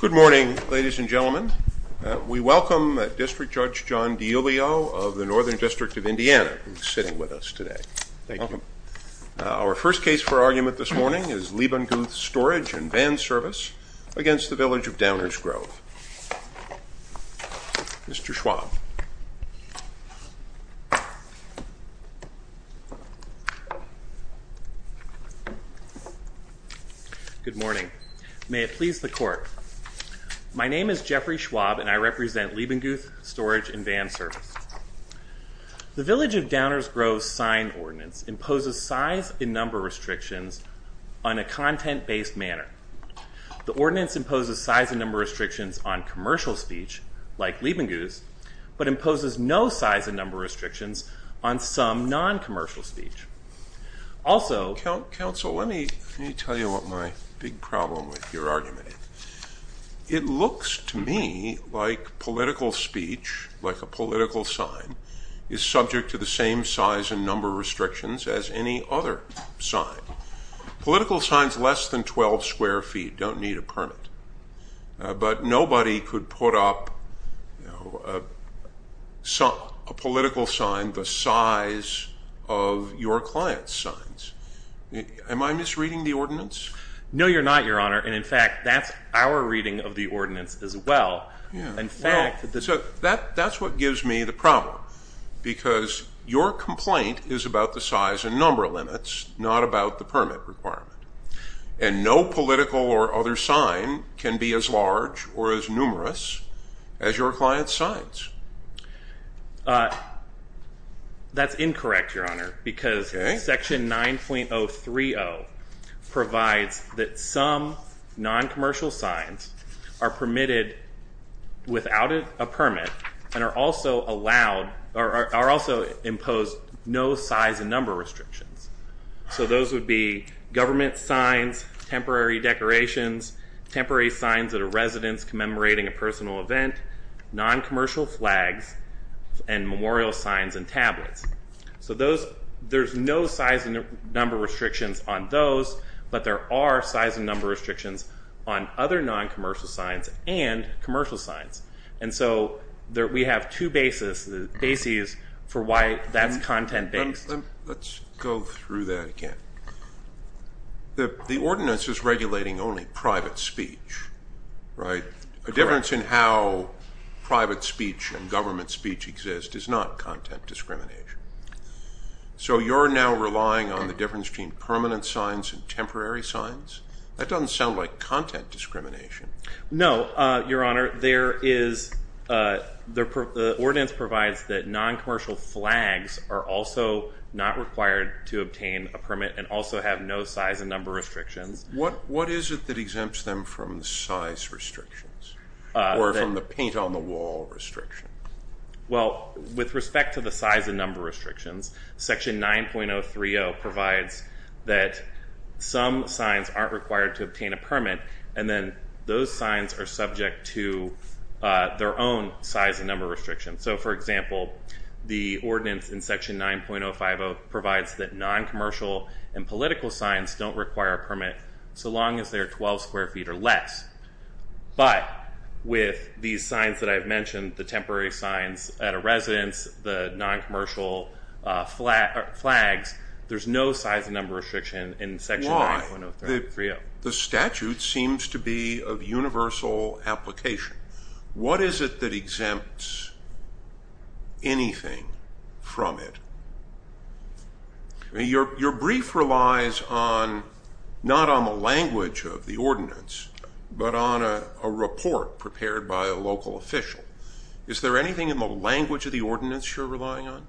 Good morning, ladies and gentlemen. We welcome District Judge John DiIulio of the Northern District of Indiana, who is sitting with us today. Thank you. Our first case for argument this morning is Leibundguth Storage & Van Service against the Village of Downers Grove. Mr. Schwab. Good morning. May it please the Court. My name is Jeffrey Schwab, and I represent Leibundguth Storage & Van Service. The Village of Downers Grove's sign ordinance imposes size and number restrictions on a content-based manner. The ordinance imposes size and number restrictions on commercial speech, like Leibundguth's, but imposes no size and number restrictions on some non-commercial speech. Also… Counsel, let me tell you what my big problem with your argument is. It looks to me like political speech, like a political sign, is subject to the same size and number restrictions as any other sign. Political signs less than 12 square feet don't need a permit, but nobody could put up a political sign the size of your client's signs. Am I misreading the ordinance? No, you're not, Your Honor. And, in fact, that's our reading of the ordinance as well. So that's what gives me the problem, because your complaint is about the size and number limits, not about the permit requirement, and no political or other sign can be as large or as numerous as your client's signs. That's incorrect, Your Honor, because Section 9.030 provides that some non-commercial signs are permitted without a permit and also impose no size and number restrictions. So those would be government signs, temporary decorations, temporary signs at a residence commemorating a personal event, non-commercial flags, and memorial signs and tablets. So there's no size and number restrictions on those, but there are size and number restrictions on other non-commercial signs and commercial signs. And so we have two bases for why that's content-based. Let's go through that again. The ordinance is regulating only private speech, right? Correct. A difference in how private speech and government speech exist is not content discrimination. So you're now relying on the difference between permanent signs and temporary signs? That doesn't sound like content discrimination. No, Your Honor. The ordinance provides that non-commercial flags are also not required to obtain a permit and also have no size and number restrictions. What is it that exempts them from the size restrictions or from the paint-on-the-wall restriction? Well, with respect to the size and number restrictions, Section 9.030 provides that some signs aren't required to obtain a permit, and then those signs are subject to their own size and number restrictions. So, for example, the ordinance in Section 9.050 provides that non-commercial and political signs don't require a permit so long as they're 12 square feet or less. But with these signs that I've mentioned, the temporary signs at a residence, the non-commercial flags, there's no size and number restriction in Section 9.030. The statute seems to be of universal application. What is it that exempts anything from it? Your brief relies not on the language of the ordinance but on a report prepared by a local official. Is there anything in the language of the ordinance you're relying on?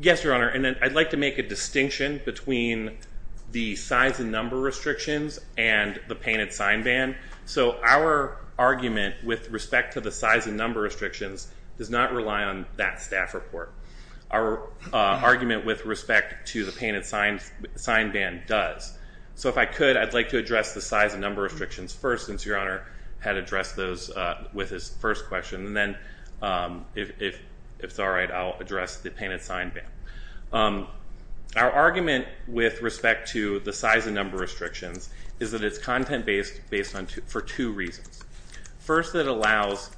Yes, Your Honor, and I'd like to make a distinction between the size and number restrictions and the painted sign ban. So our argument with respect to the size and number restrictions does not rely on that staff report. Our argument with respect to the painted sign ban does. So if I could, I'd like to address the size and number restrictions first, since Your Honor had addressed those with his first question, and then if it's all right, I'll address the painted sign ban. Our argument with respect to the size and number restrictions is that it's content-based for two reasons. First, it requires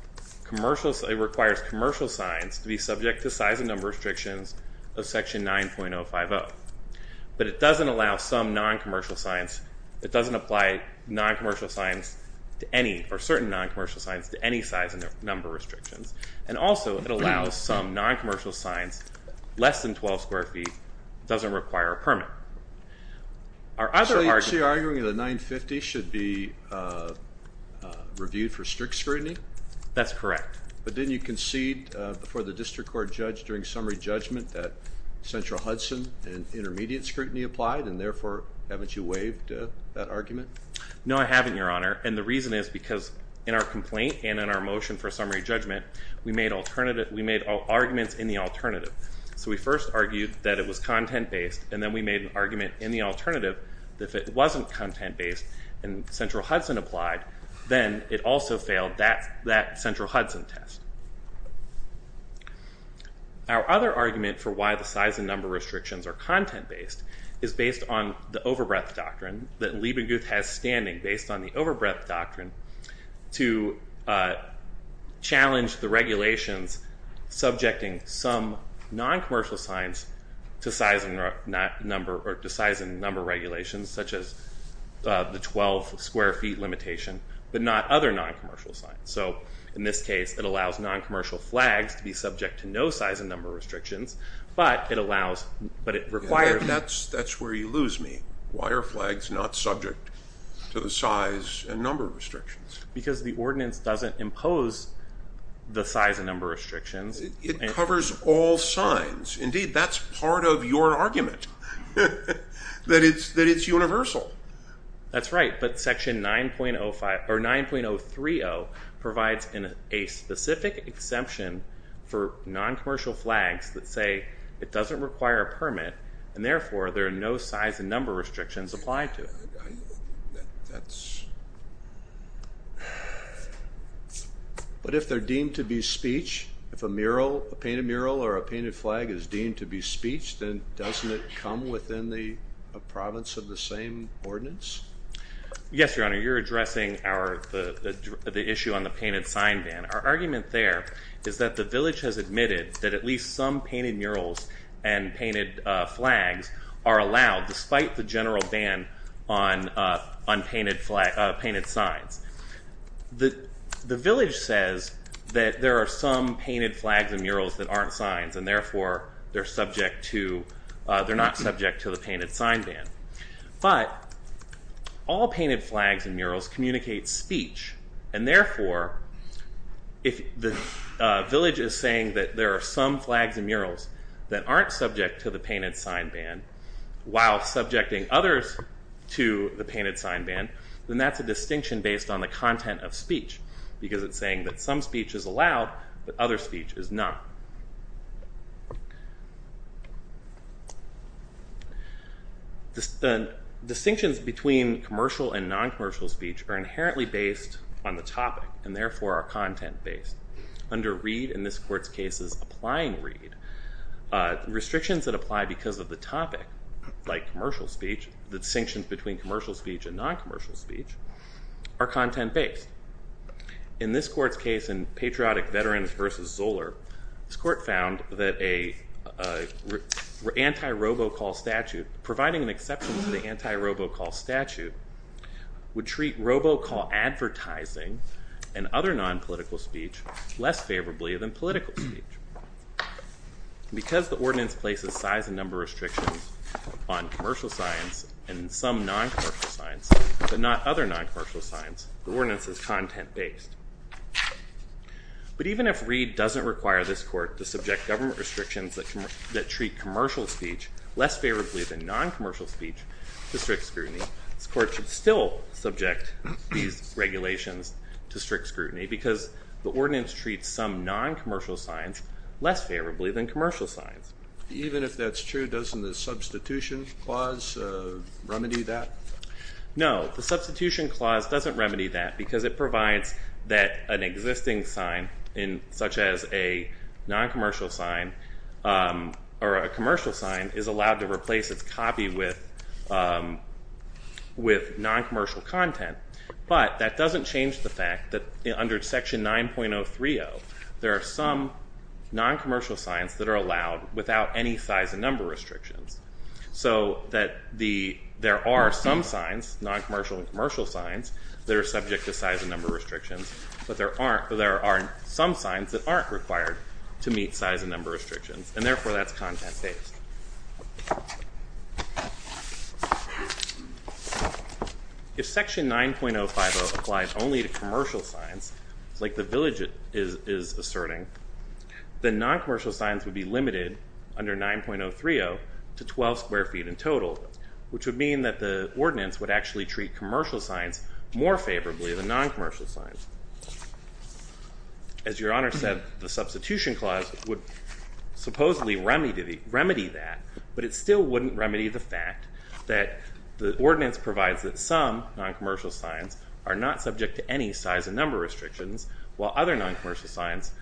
commercial signs to be subject to size and number restrictions of Section 9.050. But it doesn't allow some non-commercial signs. It doesn't apply non-commercial signs to any or certain non-commercial signs to any size and number restrictions. And also, it allows some non-commercial signs less than 12 square feet. It doesn't require a permit. So you're arguing that 9.50 should be reviewed for strict scrutiny? That's correct. But didn't you concede before the District Court judge during summary judgment that Central Hudson and intermediate scrutiny applied, and therefore, haven't you waived that argument? No, I haven't, Your Honor, and the reason is because in our complaint and in our motion for summary judgment, we made arguments in the alternative. So we first argued that it was content-based, and then we made an argument in the alternative that if it wasn't content-based and Central Hudson applied, then it also failed that Central Hudson test. Our other argument for why the size and number restrictions are content-based is based on the overbreadth doctrine that Liebiguth has standing based on the overbreadth doctrine to challenge the regulations subjecting some non-commercial signs to size and number regulations, such as the 12 square feet limitation, but not other non-commercial signs. So in this case, it allows non-commercial flags to be subject to no size and number restrictions, but it requires... That's where you lose me. Why are flags not subject to the size and number restrictions? Because the ordinance doesn't impose the size and number restrictions. It covers all signs. Indeed, that's part of your argument, that it's universal. That's right, but Section 9.030 provides a specific exemption for non-commercial flags that say it doesn't require a permit, and therefore there are no size and number restrictions applied to it. But if they're deemed to be speech, if a mural, a painted mural or a painted flag is deemed to be speech, then doesn't it come within the province of the same ordinance? Yes, Your Honor. You're addressing the issue on the painted sign ban. Our argument there is that the village has admitted that at least some painted murals and painted flags are allowed despite the general ban on painted signs. The village says that there are some painted flags and murals that aren't signs, and therefore they're not subject to the painted sign ban. But all painted flags and murals communicate speech, and therefore if the village is saying that there are some flags and murals that aren't subject to the painted sign ban while subjecting others to the painted sign ban, then that's a distinction based on the content of speech, because it's saying that some speech is allowed but other speech is not. The distinctions between commercial and non-commercial speech are inherently based on the topic and therefore are content-based. Under Reed, in this court's case, is applying Reed, restrictions that apply because of the topic, like commercial speech, the distinctions between commercial speech and non-commercial speech, are content-based. In this court's case in Patriotic Veterans v. Zoller, this court found that an anti-robocall statute, providing an exception to the anti-robocall statute, would treat robocall advertising and other non-political speech less favorably than political speech. Because the ordinance places size and number restrictions on commercial signs and some non-commercial signs, but not other non-commercial signs, the ordinance is content-based. But even if Reed doesn't require this court to subject government restrictions that treat commercial speech less favorably than non-commercial speech to strict scrutiny, this court should still subject these regulations to strict scrutiny because the ordinance treats some non-commercial signs less favorably than commercial signs. Even if that's true, doesn't the substitution clause remedy that? No, the substitution clause doesn't remedy that because it provides that an existing sign, such as a non-commercial sign or a commercial sign, is allowed to replace its copy with non-commercial content. But that doesn't change the fact that under Section 9.030, there are some non-commercial signs that are allowed without any size and number restrictions, so that there are some signs, non-commercial and commercial signs, that are subject to size and number restrictions, but there are some signs that aren't required to meet size and number restrictions, and therefore that's content-based. If Section 9.050 applies only to commercial signs, like the village is asserting, then non-commercial signs would be limited under 9.030 to 12 square feet in total, which would mean that the ordinance would actually treat commercial signs more favorably than non-commercial signs. As Your Honor said, the substitution clause would supposedly remedy that, but it still wouldn't remedy the fact that the ordinance provides that some non-commercial signs are not subject to any size and number restrictions, while other non-commercial signs,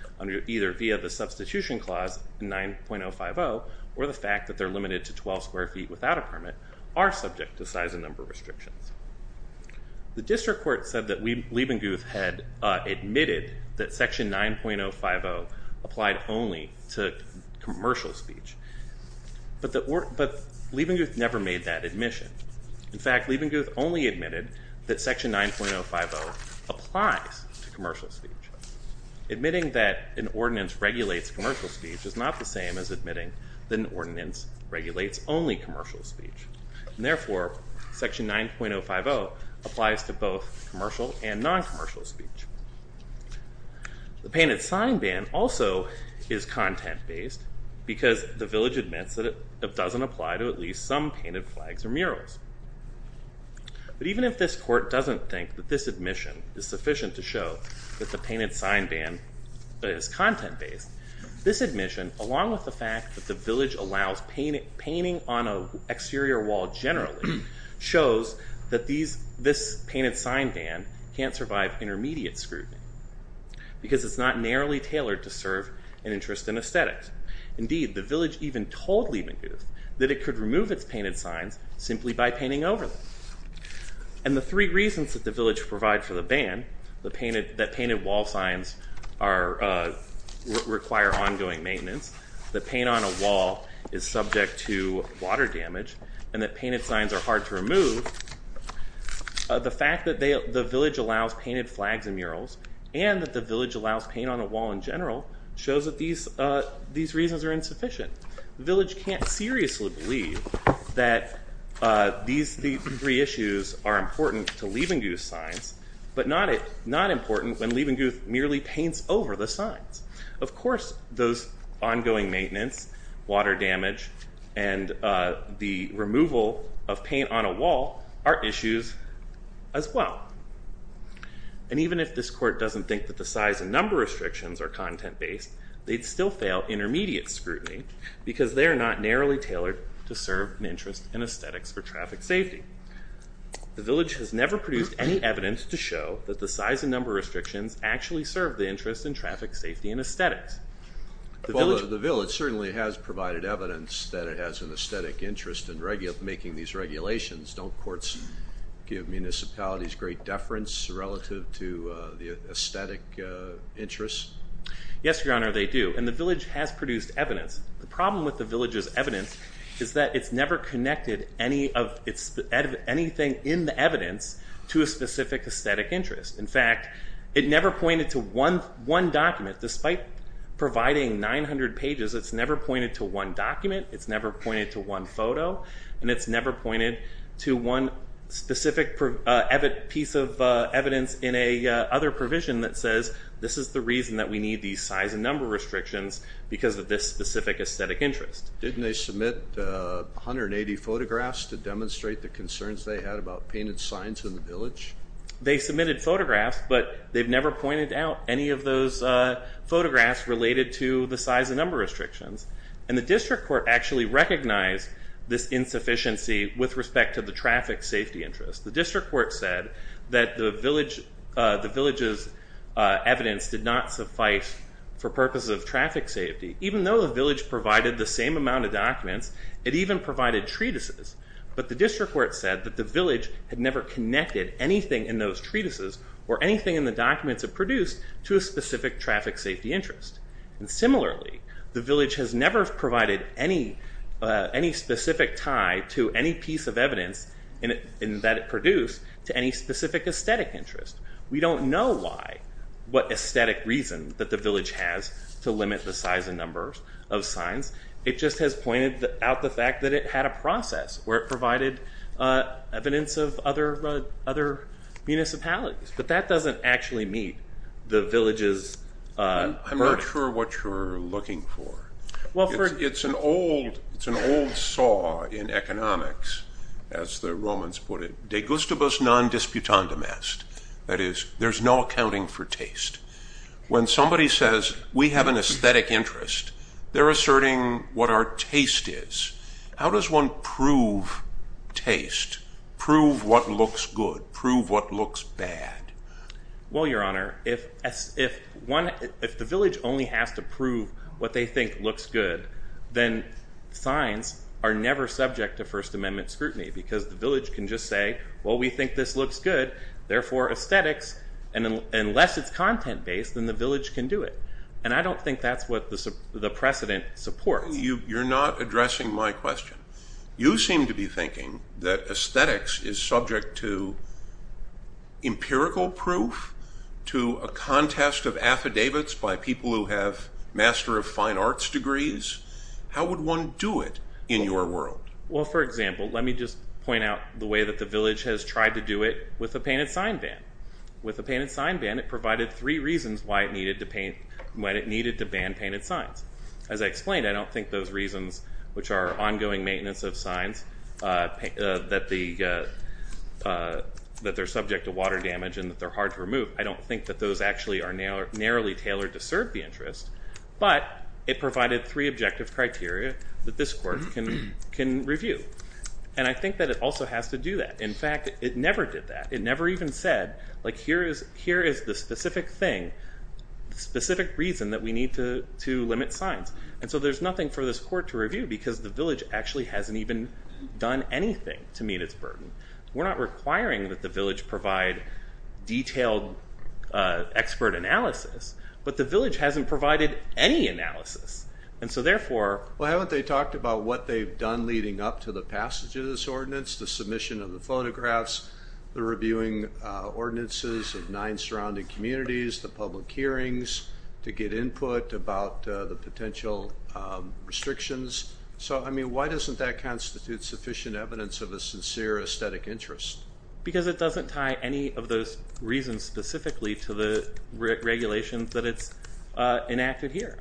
either via the substitution clause in 9.050, or the fact that they're limited to 12 square feet without a permit, are subject to size and number restrictions. The district court said that Leibenguth had admitted that Section 9.050 applied only to commercial speech, but Leibenguth never made that admission. In fact, Leibenguth only admitted that Section 9.050 applies to commercial speech. Admitting that an ordinance regulates commercial speech is not the same as admitting that an ordinance regulates only commercial speech, and therefore, Section 9.050 applies to both commercial and non-commercial speech. The painted sign ban also is content-based, because the village admits that it doesn't apply to at least some painted flags or murals. But even if this court doesn't think that this admission is sufficient to show that the painted sign ban is content-based, this admission, along with the fact that the village allows painting on an exterior wall generally, shows that this painted sign ban can't survive intermediate scrutiny, because it's not narrowly tailored to serve an interest in aesthetics. Indeed, the village even told Leibenguth that it could remove its painted signs simply by painting over them. And the three reasons that the village provides for the ban, that painted wall signs require ongoing maintenance, that paint on a wall is subject to water damage, and that painted signs are hard to remove, the fact that the village allows painted flags and murals, and that the village allows paint on a wall in general, shows that these reasons are insufficient. The village can't seriously believe that these three issues are important to Leibenguth's signs, but not important when Leibenguth merely paints over the signs. Of course, those ongoing maintenance, water damage, and the removal of paint on a wall are issues as well. And even if this court doesn't think that the size and number restrictions are content-based, they'd still fail intermediate scrutiny, because they're not narrowly tailored to serve an interest in aesthetics for traffic safety. The village has never produced any evidence to show that the size and number restrictions actually serve the interest in traffic safety and aesthetics. The village certainly has provided evidence that it has an aesthetic interest in making these regulations. Don't courts give municipalities great deference relative to the aesthetic interests? Yes, Your Honor, they do, and the village has produced evidence. The problem with the village's evidence is that it's never connected anything in the evidence to a specific aesthetic interest. In fact, it never pointed to one document. Despite providing 900 pages, it's never pointed to one document, it's never pointed to one photo, and it's never pointed to one specific piece of evidence in another provision that says, this is the reason that we need these size and number restrictions, because of this specific aesthetic interest. Didn't they submit 180 photographs to demonstrate the concerns they had about painted signs in the village? They submitted photographs, but they've never pointed out any of those photographs related to the size and number restrictions. And the district court actually recognized this insufficiency with respect to the traffic safety interest. The district court said that the village's evidence did not suffice for purposes of traffic safety. Even though the village provided the same amount of documents, it even provided treatises. But the district court said that the village had never connected anything in those treatises or anything in the documents it produced to a specific traffic safety interest. And similarly, the village has never provided any specific tie to any piece of evidence that it produced to any specific aesthetic interest. We don't know why, what aesthetic reason that the village has to limit the size and numbers of signs. It just has pointed out the fact that it had a process where it provided evidence of other municipalities. But that doesn't actually meet the village's burden. I'm not sure what you're looking for. It's an old saw in economics, as the Romans put it. De gustibus non disputandum est. That is, there's no accounting for taste. When somebody says, we have an aesthetic interest, they're asserting what our taste is. How does one prove taste, prove what looks good, prove what looks bad? Well, Your Honor, if the village only has to prove what they think looks good, then signs are never subject to First Amendment scrutiny because the village can just say, well, we think this looks good, therefore aesthetics, and unless it's content-based, then the village can do it. And I don't think that's what the precedent supports. You're not addressing my question. You seem to be thinking that aesthetics is subject to empirical proof, to a contest of affidavits by people who have Master of Fine Arts degrees. How would one do it in your world? Well, for example, let me just point out the way that the village has tried to do it with a painted sign ban. With a painted sign ban, it provided three reasons why it needed to ban painted signs. As I explained, I don't think those reasons, which are ongoing maintenance of signs, that they're subject to water damage and that they're hard to remove, I don't think that those actually are narrowly tailored to serve the interest, but it provided three objective criteria that this court can review. And I think that it also has to do that. In fact, it never did that. It never even said, like, here is the specific thing, the specific reason that we need to limit signs. And so there's nothing for this court to review because the village actually hasn't even done anything to meet its burden. We're not requiring that the village provide detailed expert analysis, but the village hasn't provided any analysis. And so therefore... Well, haven't they talked about what they've done leading up to the passage of this ordinance, the submission of the photographs, the reviewing ordinances of nine surrounding communities, the public hearings to get input about the potential restrictions? So, I mean, why doesn't that constitute sufficient evidence of a sincere aesthetic interest? Because it doesn't tie any of those reasons specifically to the regulations that it's enacted here.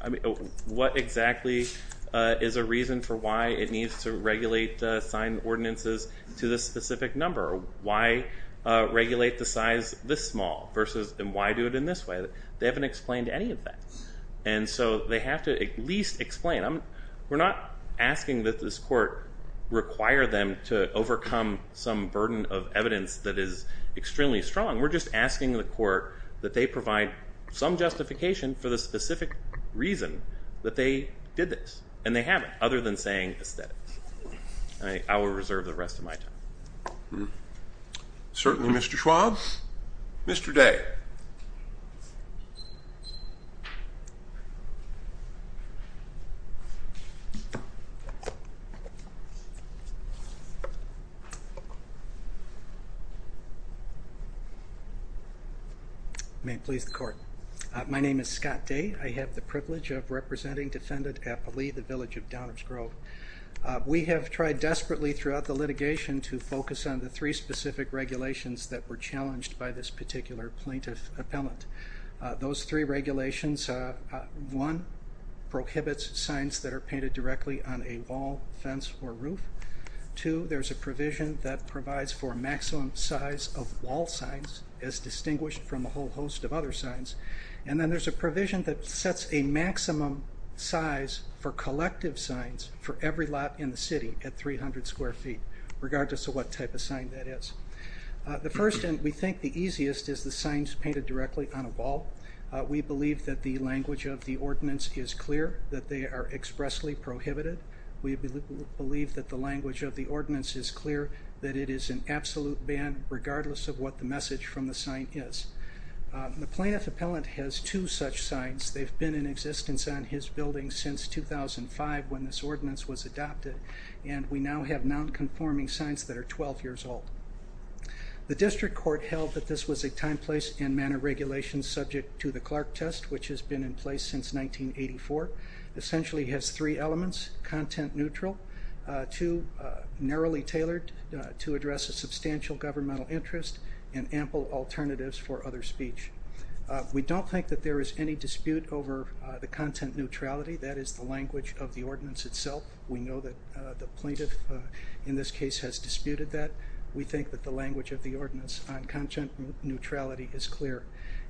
What exactly is a reason for why it needs to regulate sign ordinances to this specific number? Why regulate the size this small? And why do it in this way? They haven't explained any of that. And so they have to at least explain. We're not asking that this court require them to overcome some burden of evidence that is extremely strong. We're just asking the court that they provide some justification for the specific reason that they did this. And they haven't, other than saying aesthetics. I will reserve the rest of my time. Certainly, Mr. Schwab. Mr. Day. May it please the court. My name is Scott Day. I have the privilege of representing Defendant Applee, the village of Downers Grove. We have tried desperately throughout the litigation to focus on the three specific regulations that were challenged by this particular plaintiff appellant. Those three regulations, one prohibits signs that are painted directly on a wall, fence, or roof. Two, there's a provision that provides for maximum size of wall signs, as distinguished from a whole host of other signs. And then there's a provision that sets a maximum size for collective signs for every lot in the city at 300 square feet, regardless of what type of sign that is. The first, and we think the easiest, is the signs painted directly on a wall. We believe that the language of the ordinance is clear, that they are expressly prohibited. We believe that the language of the ordinance is clear, that it is an absolute ban, regardless of what the message from the sign is. The plaintiff appellant has two such signs. They've been in existence on his building since 2005, when this ordinance was adopted, and we now have nonconforming signs that are 12 years old. The district court held that this was a time, place, and manner regulation subject to the Clark test, which has been in place since 1984. It essentially has three elements, content neutral, two, narrowly tailored to address a substantial governmental interest, and ample alternatives for other speech. We don't think that there is any dispute over the content neutrality. That is the language of the ordinance itself. We know that the plaintiff in this case has disputed that. We think that the language of the ordinance on content neutrality is clear.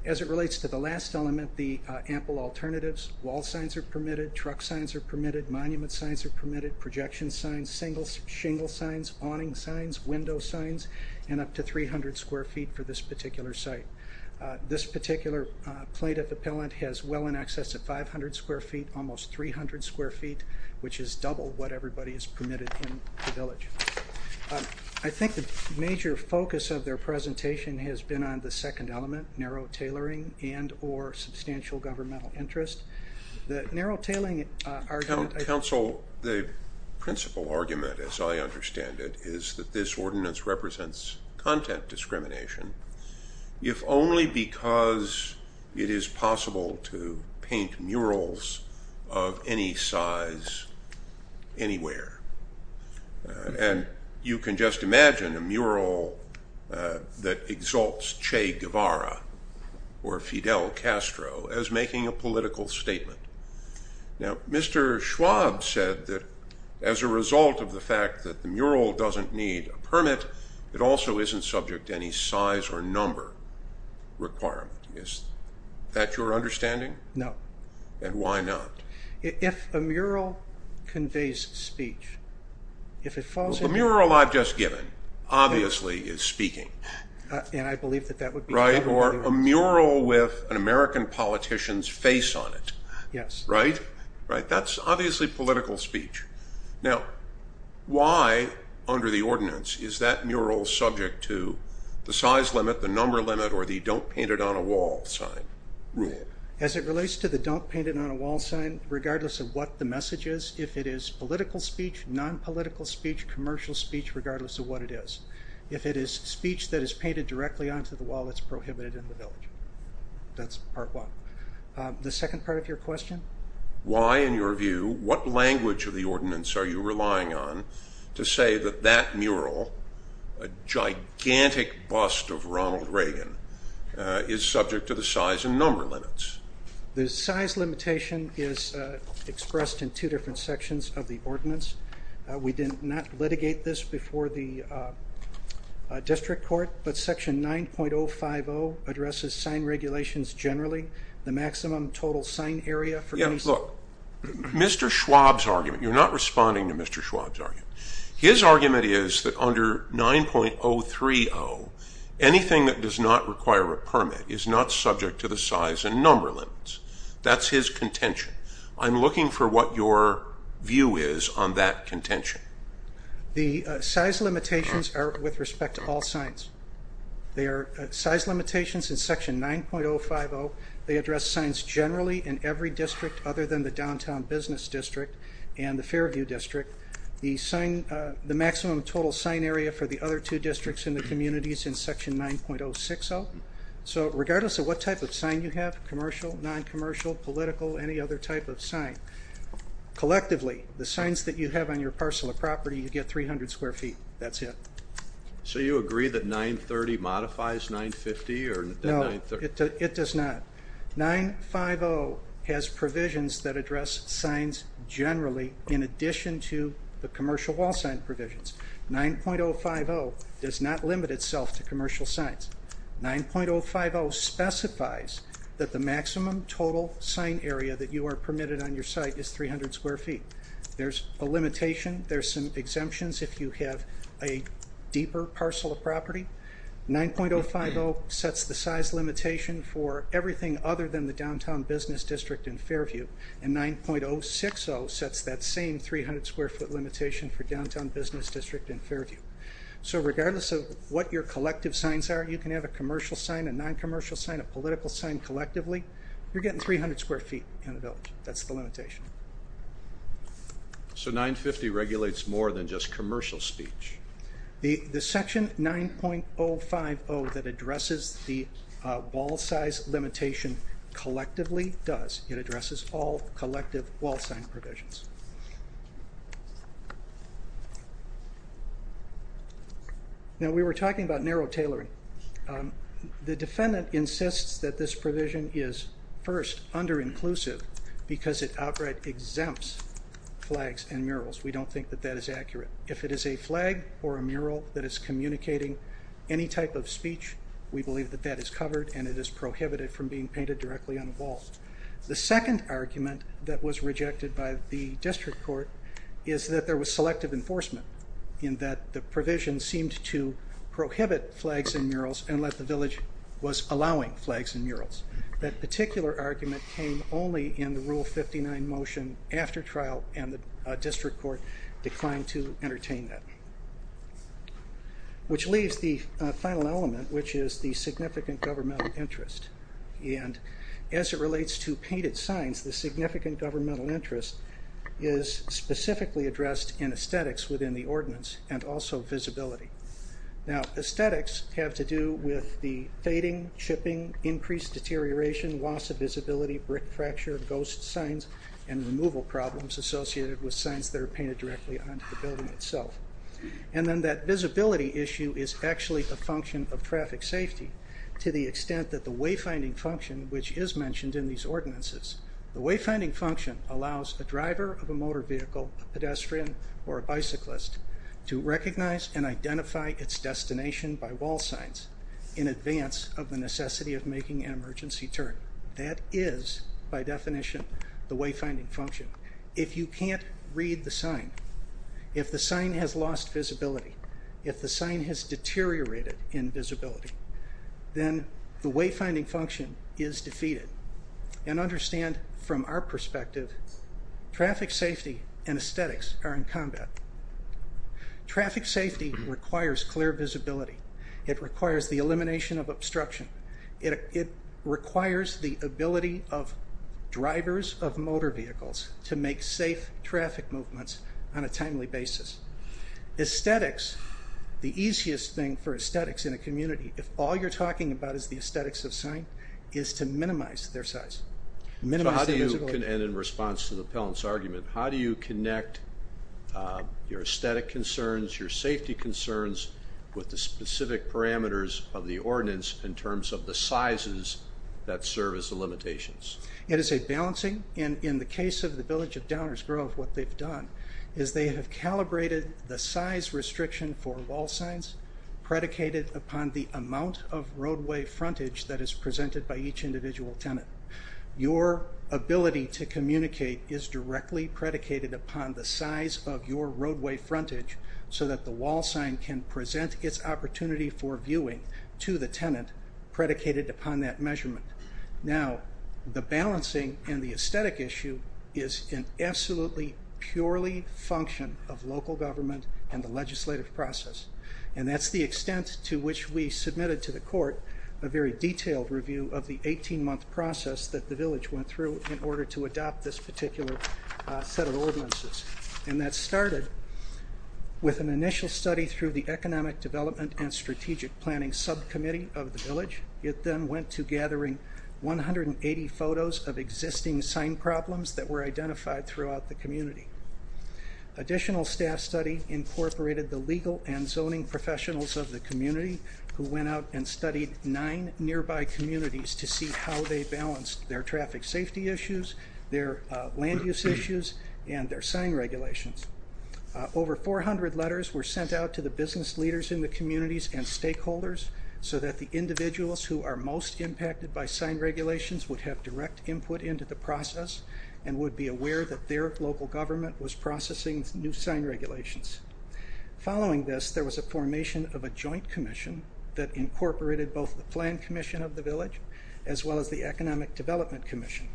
As it relates to the last element, the ample alternatives, wall signs are permitted, truck signs are permitted, monument signs are permitted, projection signs, shingle signs, awning signs, window signs, and up to 300 square feet for this particular site. This particular plaintiff appellant has well in excess of 500 square feet, almost 300 square feet, which is double what everybody is permitted in the village. I think the major focus of their presentation has been on the second element, narrow tailoring and or substantial governmental interest. The narrow tailing argument... The principal argument, as I understand it, is that this ordinance represents content discrimination if only because it is possible to paint murals of any size anywhere. You can just imagine a mural that exalts Che Guevara or Fidel Castro as making a political statement. Now, Mr. Schwab said that as a result of the fact that the mural doesn't need a permit, it also isn't subject to any size or number requirement. Is that your understanding? No. And why not? If a mural conveys speech, if it falls... Well, the mural I've just given obviously is speaking. And I believe that that would be... Or a mural with an American politician's face on it. Yes. Right? That's obviously political speech. Now, why under the ordinance is that mural subject to the size limit, the number limit, or the don't paint it on a wall sign rule? As it relates to the don't paint it on a wall sign, regardless of what the message is, if it is political speech, nonpolitical speech, commercial speech, regardless of what it is. If it is speech that is painted directly onto the wall, it's prohibited in the village. That's part one. The second part of your question? Why, in your view, what language of the ordinance are you relying on to say that that mural, a gigantic bust of Ronald Reagan, is subject to the size and number limits? The size limitation is expressed in two different sections of the ordinance. We did not litigate this before the district court, but Section 9.050 addresses sign regulations generally, the maximum total sign area for... Yeah, look, Mr. Schwab's argument, you're not responding to Mr. Schwab's argument. His argument is that under 9.030, anything that does not require a permit is not subject to the size and number limits. That's his contention. I'm looking for what your view is on that contention. The size limitations are with respect to all signs. They are size limitations in Section 9.050. They address signs generally in every district other than the downtown business district and the Fairview district. The maximum total sign area for the other two districts in the communities in Section 9.060. So regardless of what type of sign you have, commercial, noncommercial, political, any other type of sign, collectively, the signs that you have on your parcel of property, you get 300 square feet. That's it. So you agree that 9.30 modifies 9.50? No, it does not. 9.50 has provisions that address signs generally in addition to the commercial wall sign provisions. 9.050 does not limit itself to commercial signs. 9.050 specifies that the maximum total sign area that you are permitted on your site is 300 square feet. There's a limitation. There's some exemptions if you have a deeper parcel of property. 9.050 sets the size limitation for everything other than the downtown business district and Fairview, and 9.060 sets that same 300 square foot limitation for downtown business district and Fairview. So regardless of what your collective signs are, you can have a commercial sign, a noncommercial sign, a political sign collectively. You're getting 300 square feet in the village. That's the limitation. So 9.50 regulates more than just commercial speech? The Section 9.050 that addresses the wall size limitation collectively does. It addresses all collective wall sign provisions. Now, we were talking about narrow tailoring. The defendant insists that this provision is, first, under-inclusive because it outright exempts flags and murals. We don't think that that is accurate. If it is a flag or a mural that is communicating any type of speech, we believe that that is covered, and it is prohibited from being painted directly on a wall. The second argument that was rejected by the district court is that there was selective enforcement in that the provision seemed to prohibit flags and murals and that the village was allowing flags and murals. That particular argument came only in the Rule 59 motion after trial, and the district court declined to entertain that. Which leaves the final element, which is the significant governmental interest. And as it relates to painted signs, the significant governmental interest is specifically addressed in aesthetics within the ordinance and also visibility. Now, aesthetics have to do with the fading, chipping, increased deterioration, loss of visibility, brick fracture, ghost signs, and removal problems associated with signs that are painted directly onto the building itself. And then that visibility issue is actually a function of traffic safety to the extent that the wayfinding function, which is mentioned in these ordinances, the wayfinding function allows a driver of a motor vehicle, a pedestrian, or a bicyclist to recognize and identify its destination by wall signs in advance of the necessity of making an emergency turn. That is, by definition, the wayfinding function. If you can't read the sign, if the sign has lost visibility, if the sign has deteriorated in visibility, then the wayfinding function is defeated. And understand from our perspective, traffic safety and aesthetics are in combat. Traffic safety requires clear visibility. It requires the elimination of obstruction. It requires the ability of drivers of motor vehicles to make safe traffic movements on a timely basis. Aesthetics, the easiest thing for aesthetics in a community, if all you're talking about is the aesthetics of a sign, is to minimize their size, minimize their visibility. And in response to the appellant's argument, how do you connect your aesthetic concerns, your safety concerns, with the specific parameters of the ordinance in terms of the sizes that serve as the limitations? It is a balancing. In the case of the Village of Downers Grove, what they've done is they have calibrated the size restriction for wall signs predicated upon the amount of roadway frontage that is presented by each individual tenant. Your ability to communicate is directly predicated upon the size of your frontage. And your ability to present its opportunity for viewing to the tenant predicated upon that measurement. Now, the balancing and the aesthetic issue is an absolutely purely function of local government and the legislative process. And that's the extent to which we submitted to the court a very detailed review of the 18-month process that the village went through in order to adopt this particular set of ordinances. And that started with an initial study through the Economic Development and Strategic Planning Subcommittee of the village. It then went to gathering 180 photos of existing sign problems that were identified throughout the community. Additional staff study incorporated the legal and zoning professionals of the community who went out and studied nine nearby communities to see how they balanced their traffic safety issues, their land use issues, and their sign regulations. Over 400 letters were sent out to the business leaders in the communities and stakeholders so that the individuals who are most impacted by sign regulations would have direct input into the process and would be aware that their local government was processing new sign regulations. Following this, there was a formation of a joint commission that incorporated both the planned commission of the village as well as the Economic Development Commission.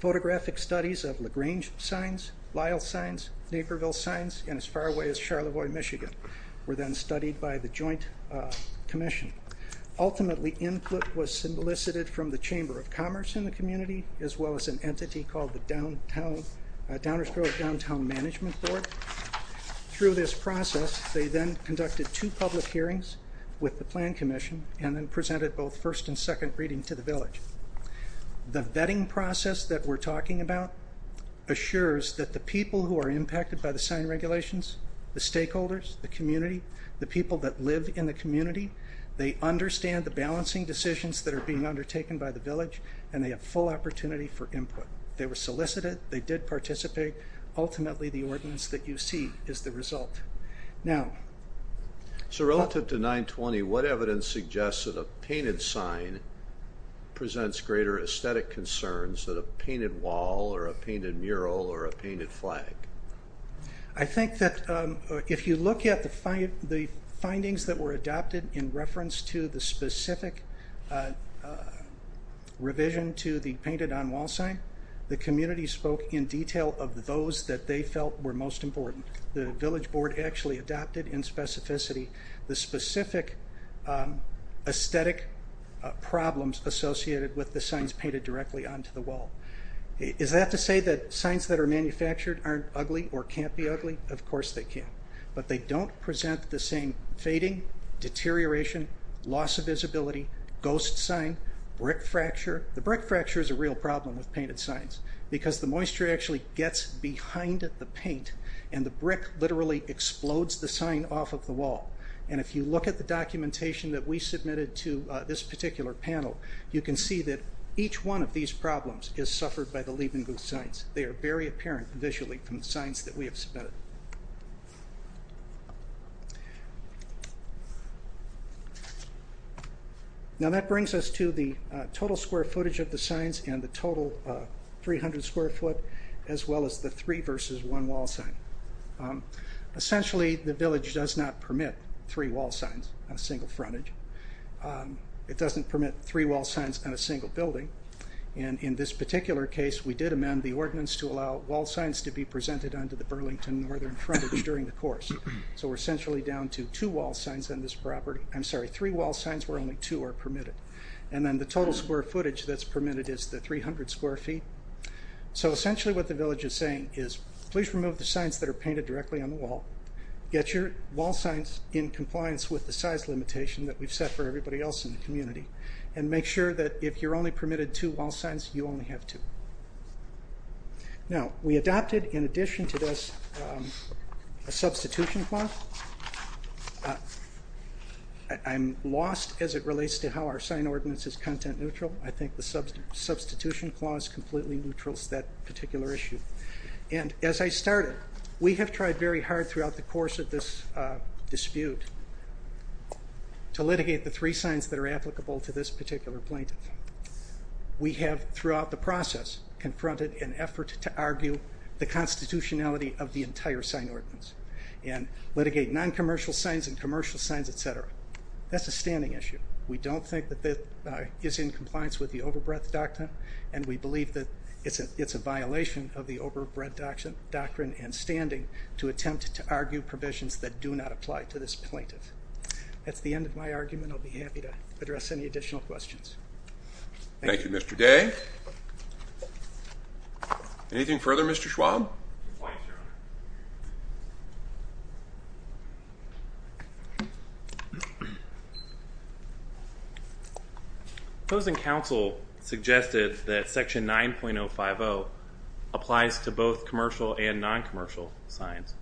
Photographic studies of LaGrange signs, Lyle signs, Naperville signs, and as far away as Charlevoix, Michigan, were then studied by the joint commission. Ultimately, input was solicited from the Chamber of Commerce in the community as well as an entity called the Downersville Downtown Management Board. Through this process, they then conducted two public hearings with the planned commission and then presented both first and second reading to the village. The vetting process that we're talking about assures that the people who are impacted by the sign regulations, the stakeholders, the community, the people that live in the community, they understand the balancing decisions that are being undertaken by the village and they have full opportunity for input. They were solicited, they did participate. Ultimately, the ordinance that you see is the result. So relative to 920, what evidence suggests that a painted sign presents greater aesthetic concerns than a painted wall or a painted mural or a painted flag? I think that if you look at the findings that were adopted in reference to the specific revision to the painted on wall sign, the community spoke in detail of those that they felt were most important. The village board actually adopted in specificity the specific aesthetic problems associated with the signs painted directly onto the wall. Is that to say that signs that are manufactured aren't ugly or can't be ugly? Of course they can. But they don't present the same fading, deterioration, loss of visibility, ghost sign, brick fracture. The brick fracture is a real problem with painted signs because the moisture actually gets behind the paint and the brick literally explodes the sign off of the wall. And if you look at the documentation that we submitted to this particular panel, you can see that each one of these problems is suffered by the Liebenguth signs. They are very apparent visually from the signs that we have submitted. Now that brings us to the total square footage of the signs and the total 300 square foot as well as the three versus one wall sign. Essentially the village does not permit three wall signs on a single frontage. It doesn't permit three wall signs on a single building. And in this particular case, we did amend the ordinance to allow wall signs to be presented onto the Burlington northern frontage during the course. So we're essentially down to two wall signs on this property. I'm sorry, three wall signs where only two are permitted. And then the total square footage that's permitted is the 300 square feet. So essentially what the village is saying is, please remove the signs that are painted directly on the wall. Get your wall signs in compliance with the size limitation that we've set for everybody else in the community. And make sure that if you're only permitted two wall signs, you only have two. Now we adopted in addition to this a substitution clause. I'm lost as it relates to how our sign ordinance is content neutral. I think the substitution clause completely neutrals that particular issue. And as I started, we have tried very hard throughout the course of this dispute to litigate the three signs that are applicable to this particular plaintiff. We have throughout the process confronted an effort to argue the constitutionality of the entire sign ordinance. And litigate non-commercial signs and commercial signs, et cetera. That's a standing issue. We don't think that that is in compliance with the overbreadth doctrine. And we believe that it's a violation of the overbreadth doctrine and standing to attempt to argue provisions that do not apply to this plaintiff. That's the end of my argument. I'll be happy to address any additional questions. Thank you, Mr. Day. Anything further, Mr. Schwab? No. Opposing counsel suggested that section 9.050 applies to both commercial and non-commercial signs.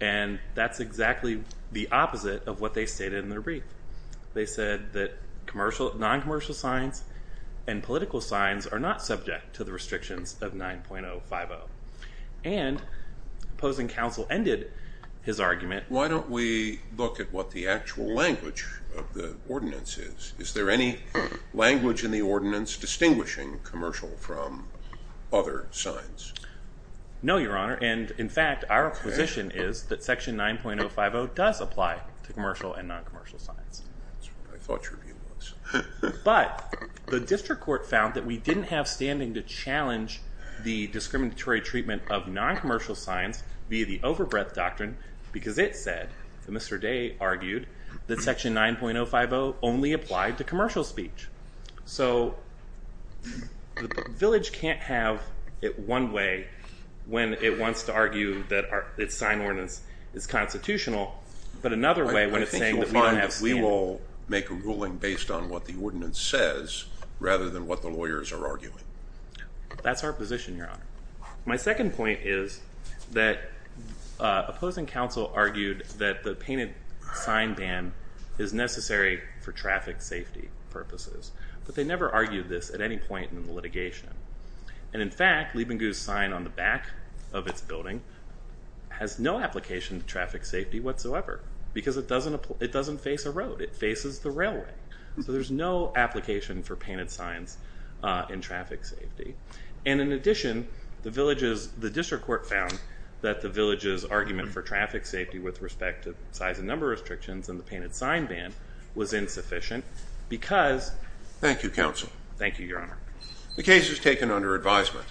And that's exactly the opposite of what they stated in their brief. They said that non-commercial signs and political signs are not subject to the restrictions of 9.050. And opposing counsel ended his argument. Why don't we look at what the actual language of the ordinance is? Is there any language in the ordinance distinguishing commercial from other signs? No, Your Honor. And, in fact, our position is that section 9.050 does apply to commercial and non-commercial signs. That's what I thought your view was. But the district court found that we didn't have standing to challenge the discriminatory treatment of non-commercial signs via the overbreadth doctrine because it said, Mr. Day argued, that section 9.050 only applied to commercial speech. So the village can't have it one way when it wants to argue that its sign ordinance is constitutional, but another way when it's saying that we don't understand what the ordinance says rather than what the lawyers are arguing. That's our position, Your Honor. My second point is that opposing counsel argued that the painted sign ban is necessary for traffic safety purposes. But they never argued this at any point in the litigation. And, in fact, Liebengu's sign on the back of its building has no application to traffic safety whatsoever because it doesn't face a road. It faces the railway. So there's no application for painted signs in traffic safety. And, in addition, the district court found that the village's argument for traffic safety with respect to size and number restrictions and the painted sign ban was insufficient because... Thank you, counsel. Thank you, Your Honor. The case is taken under advisement.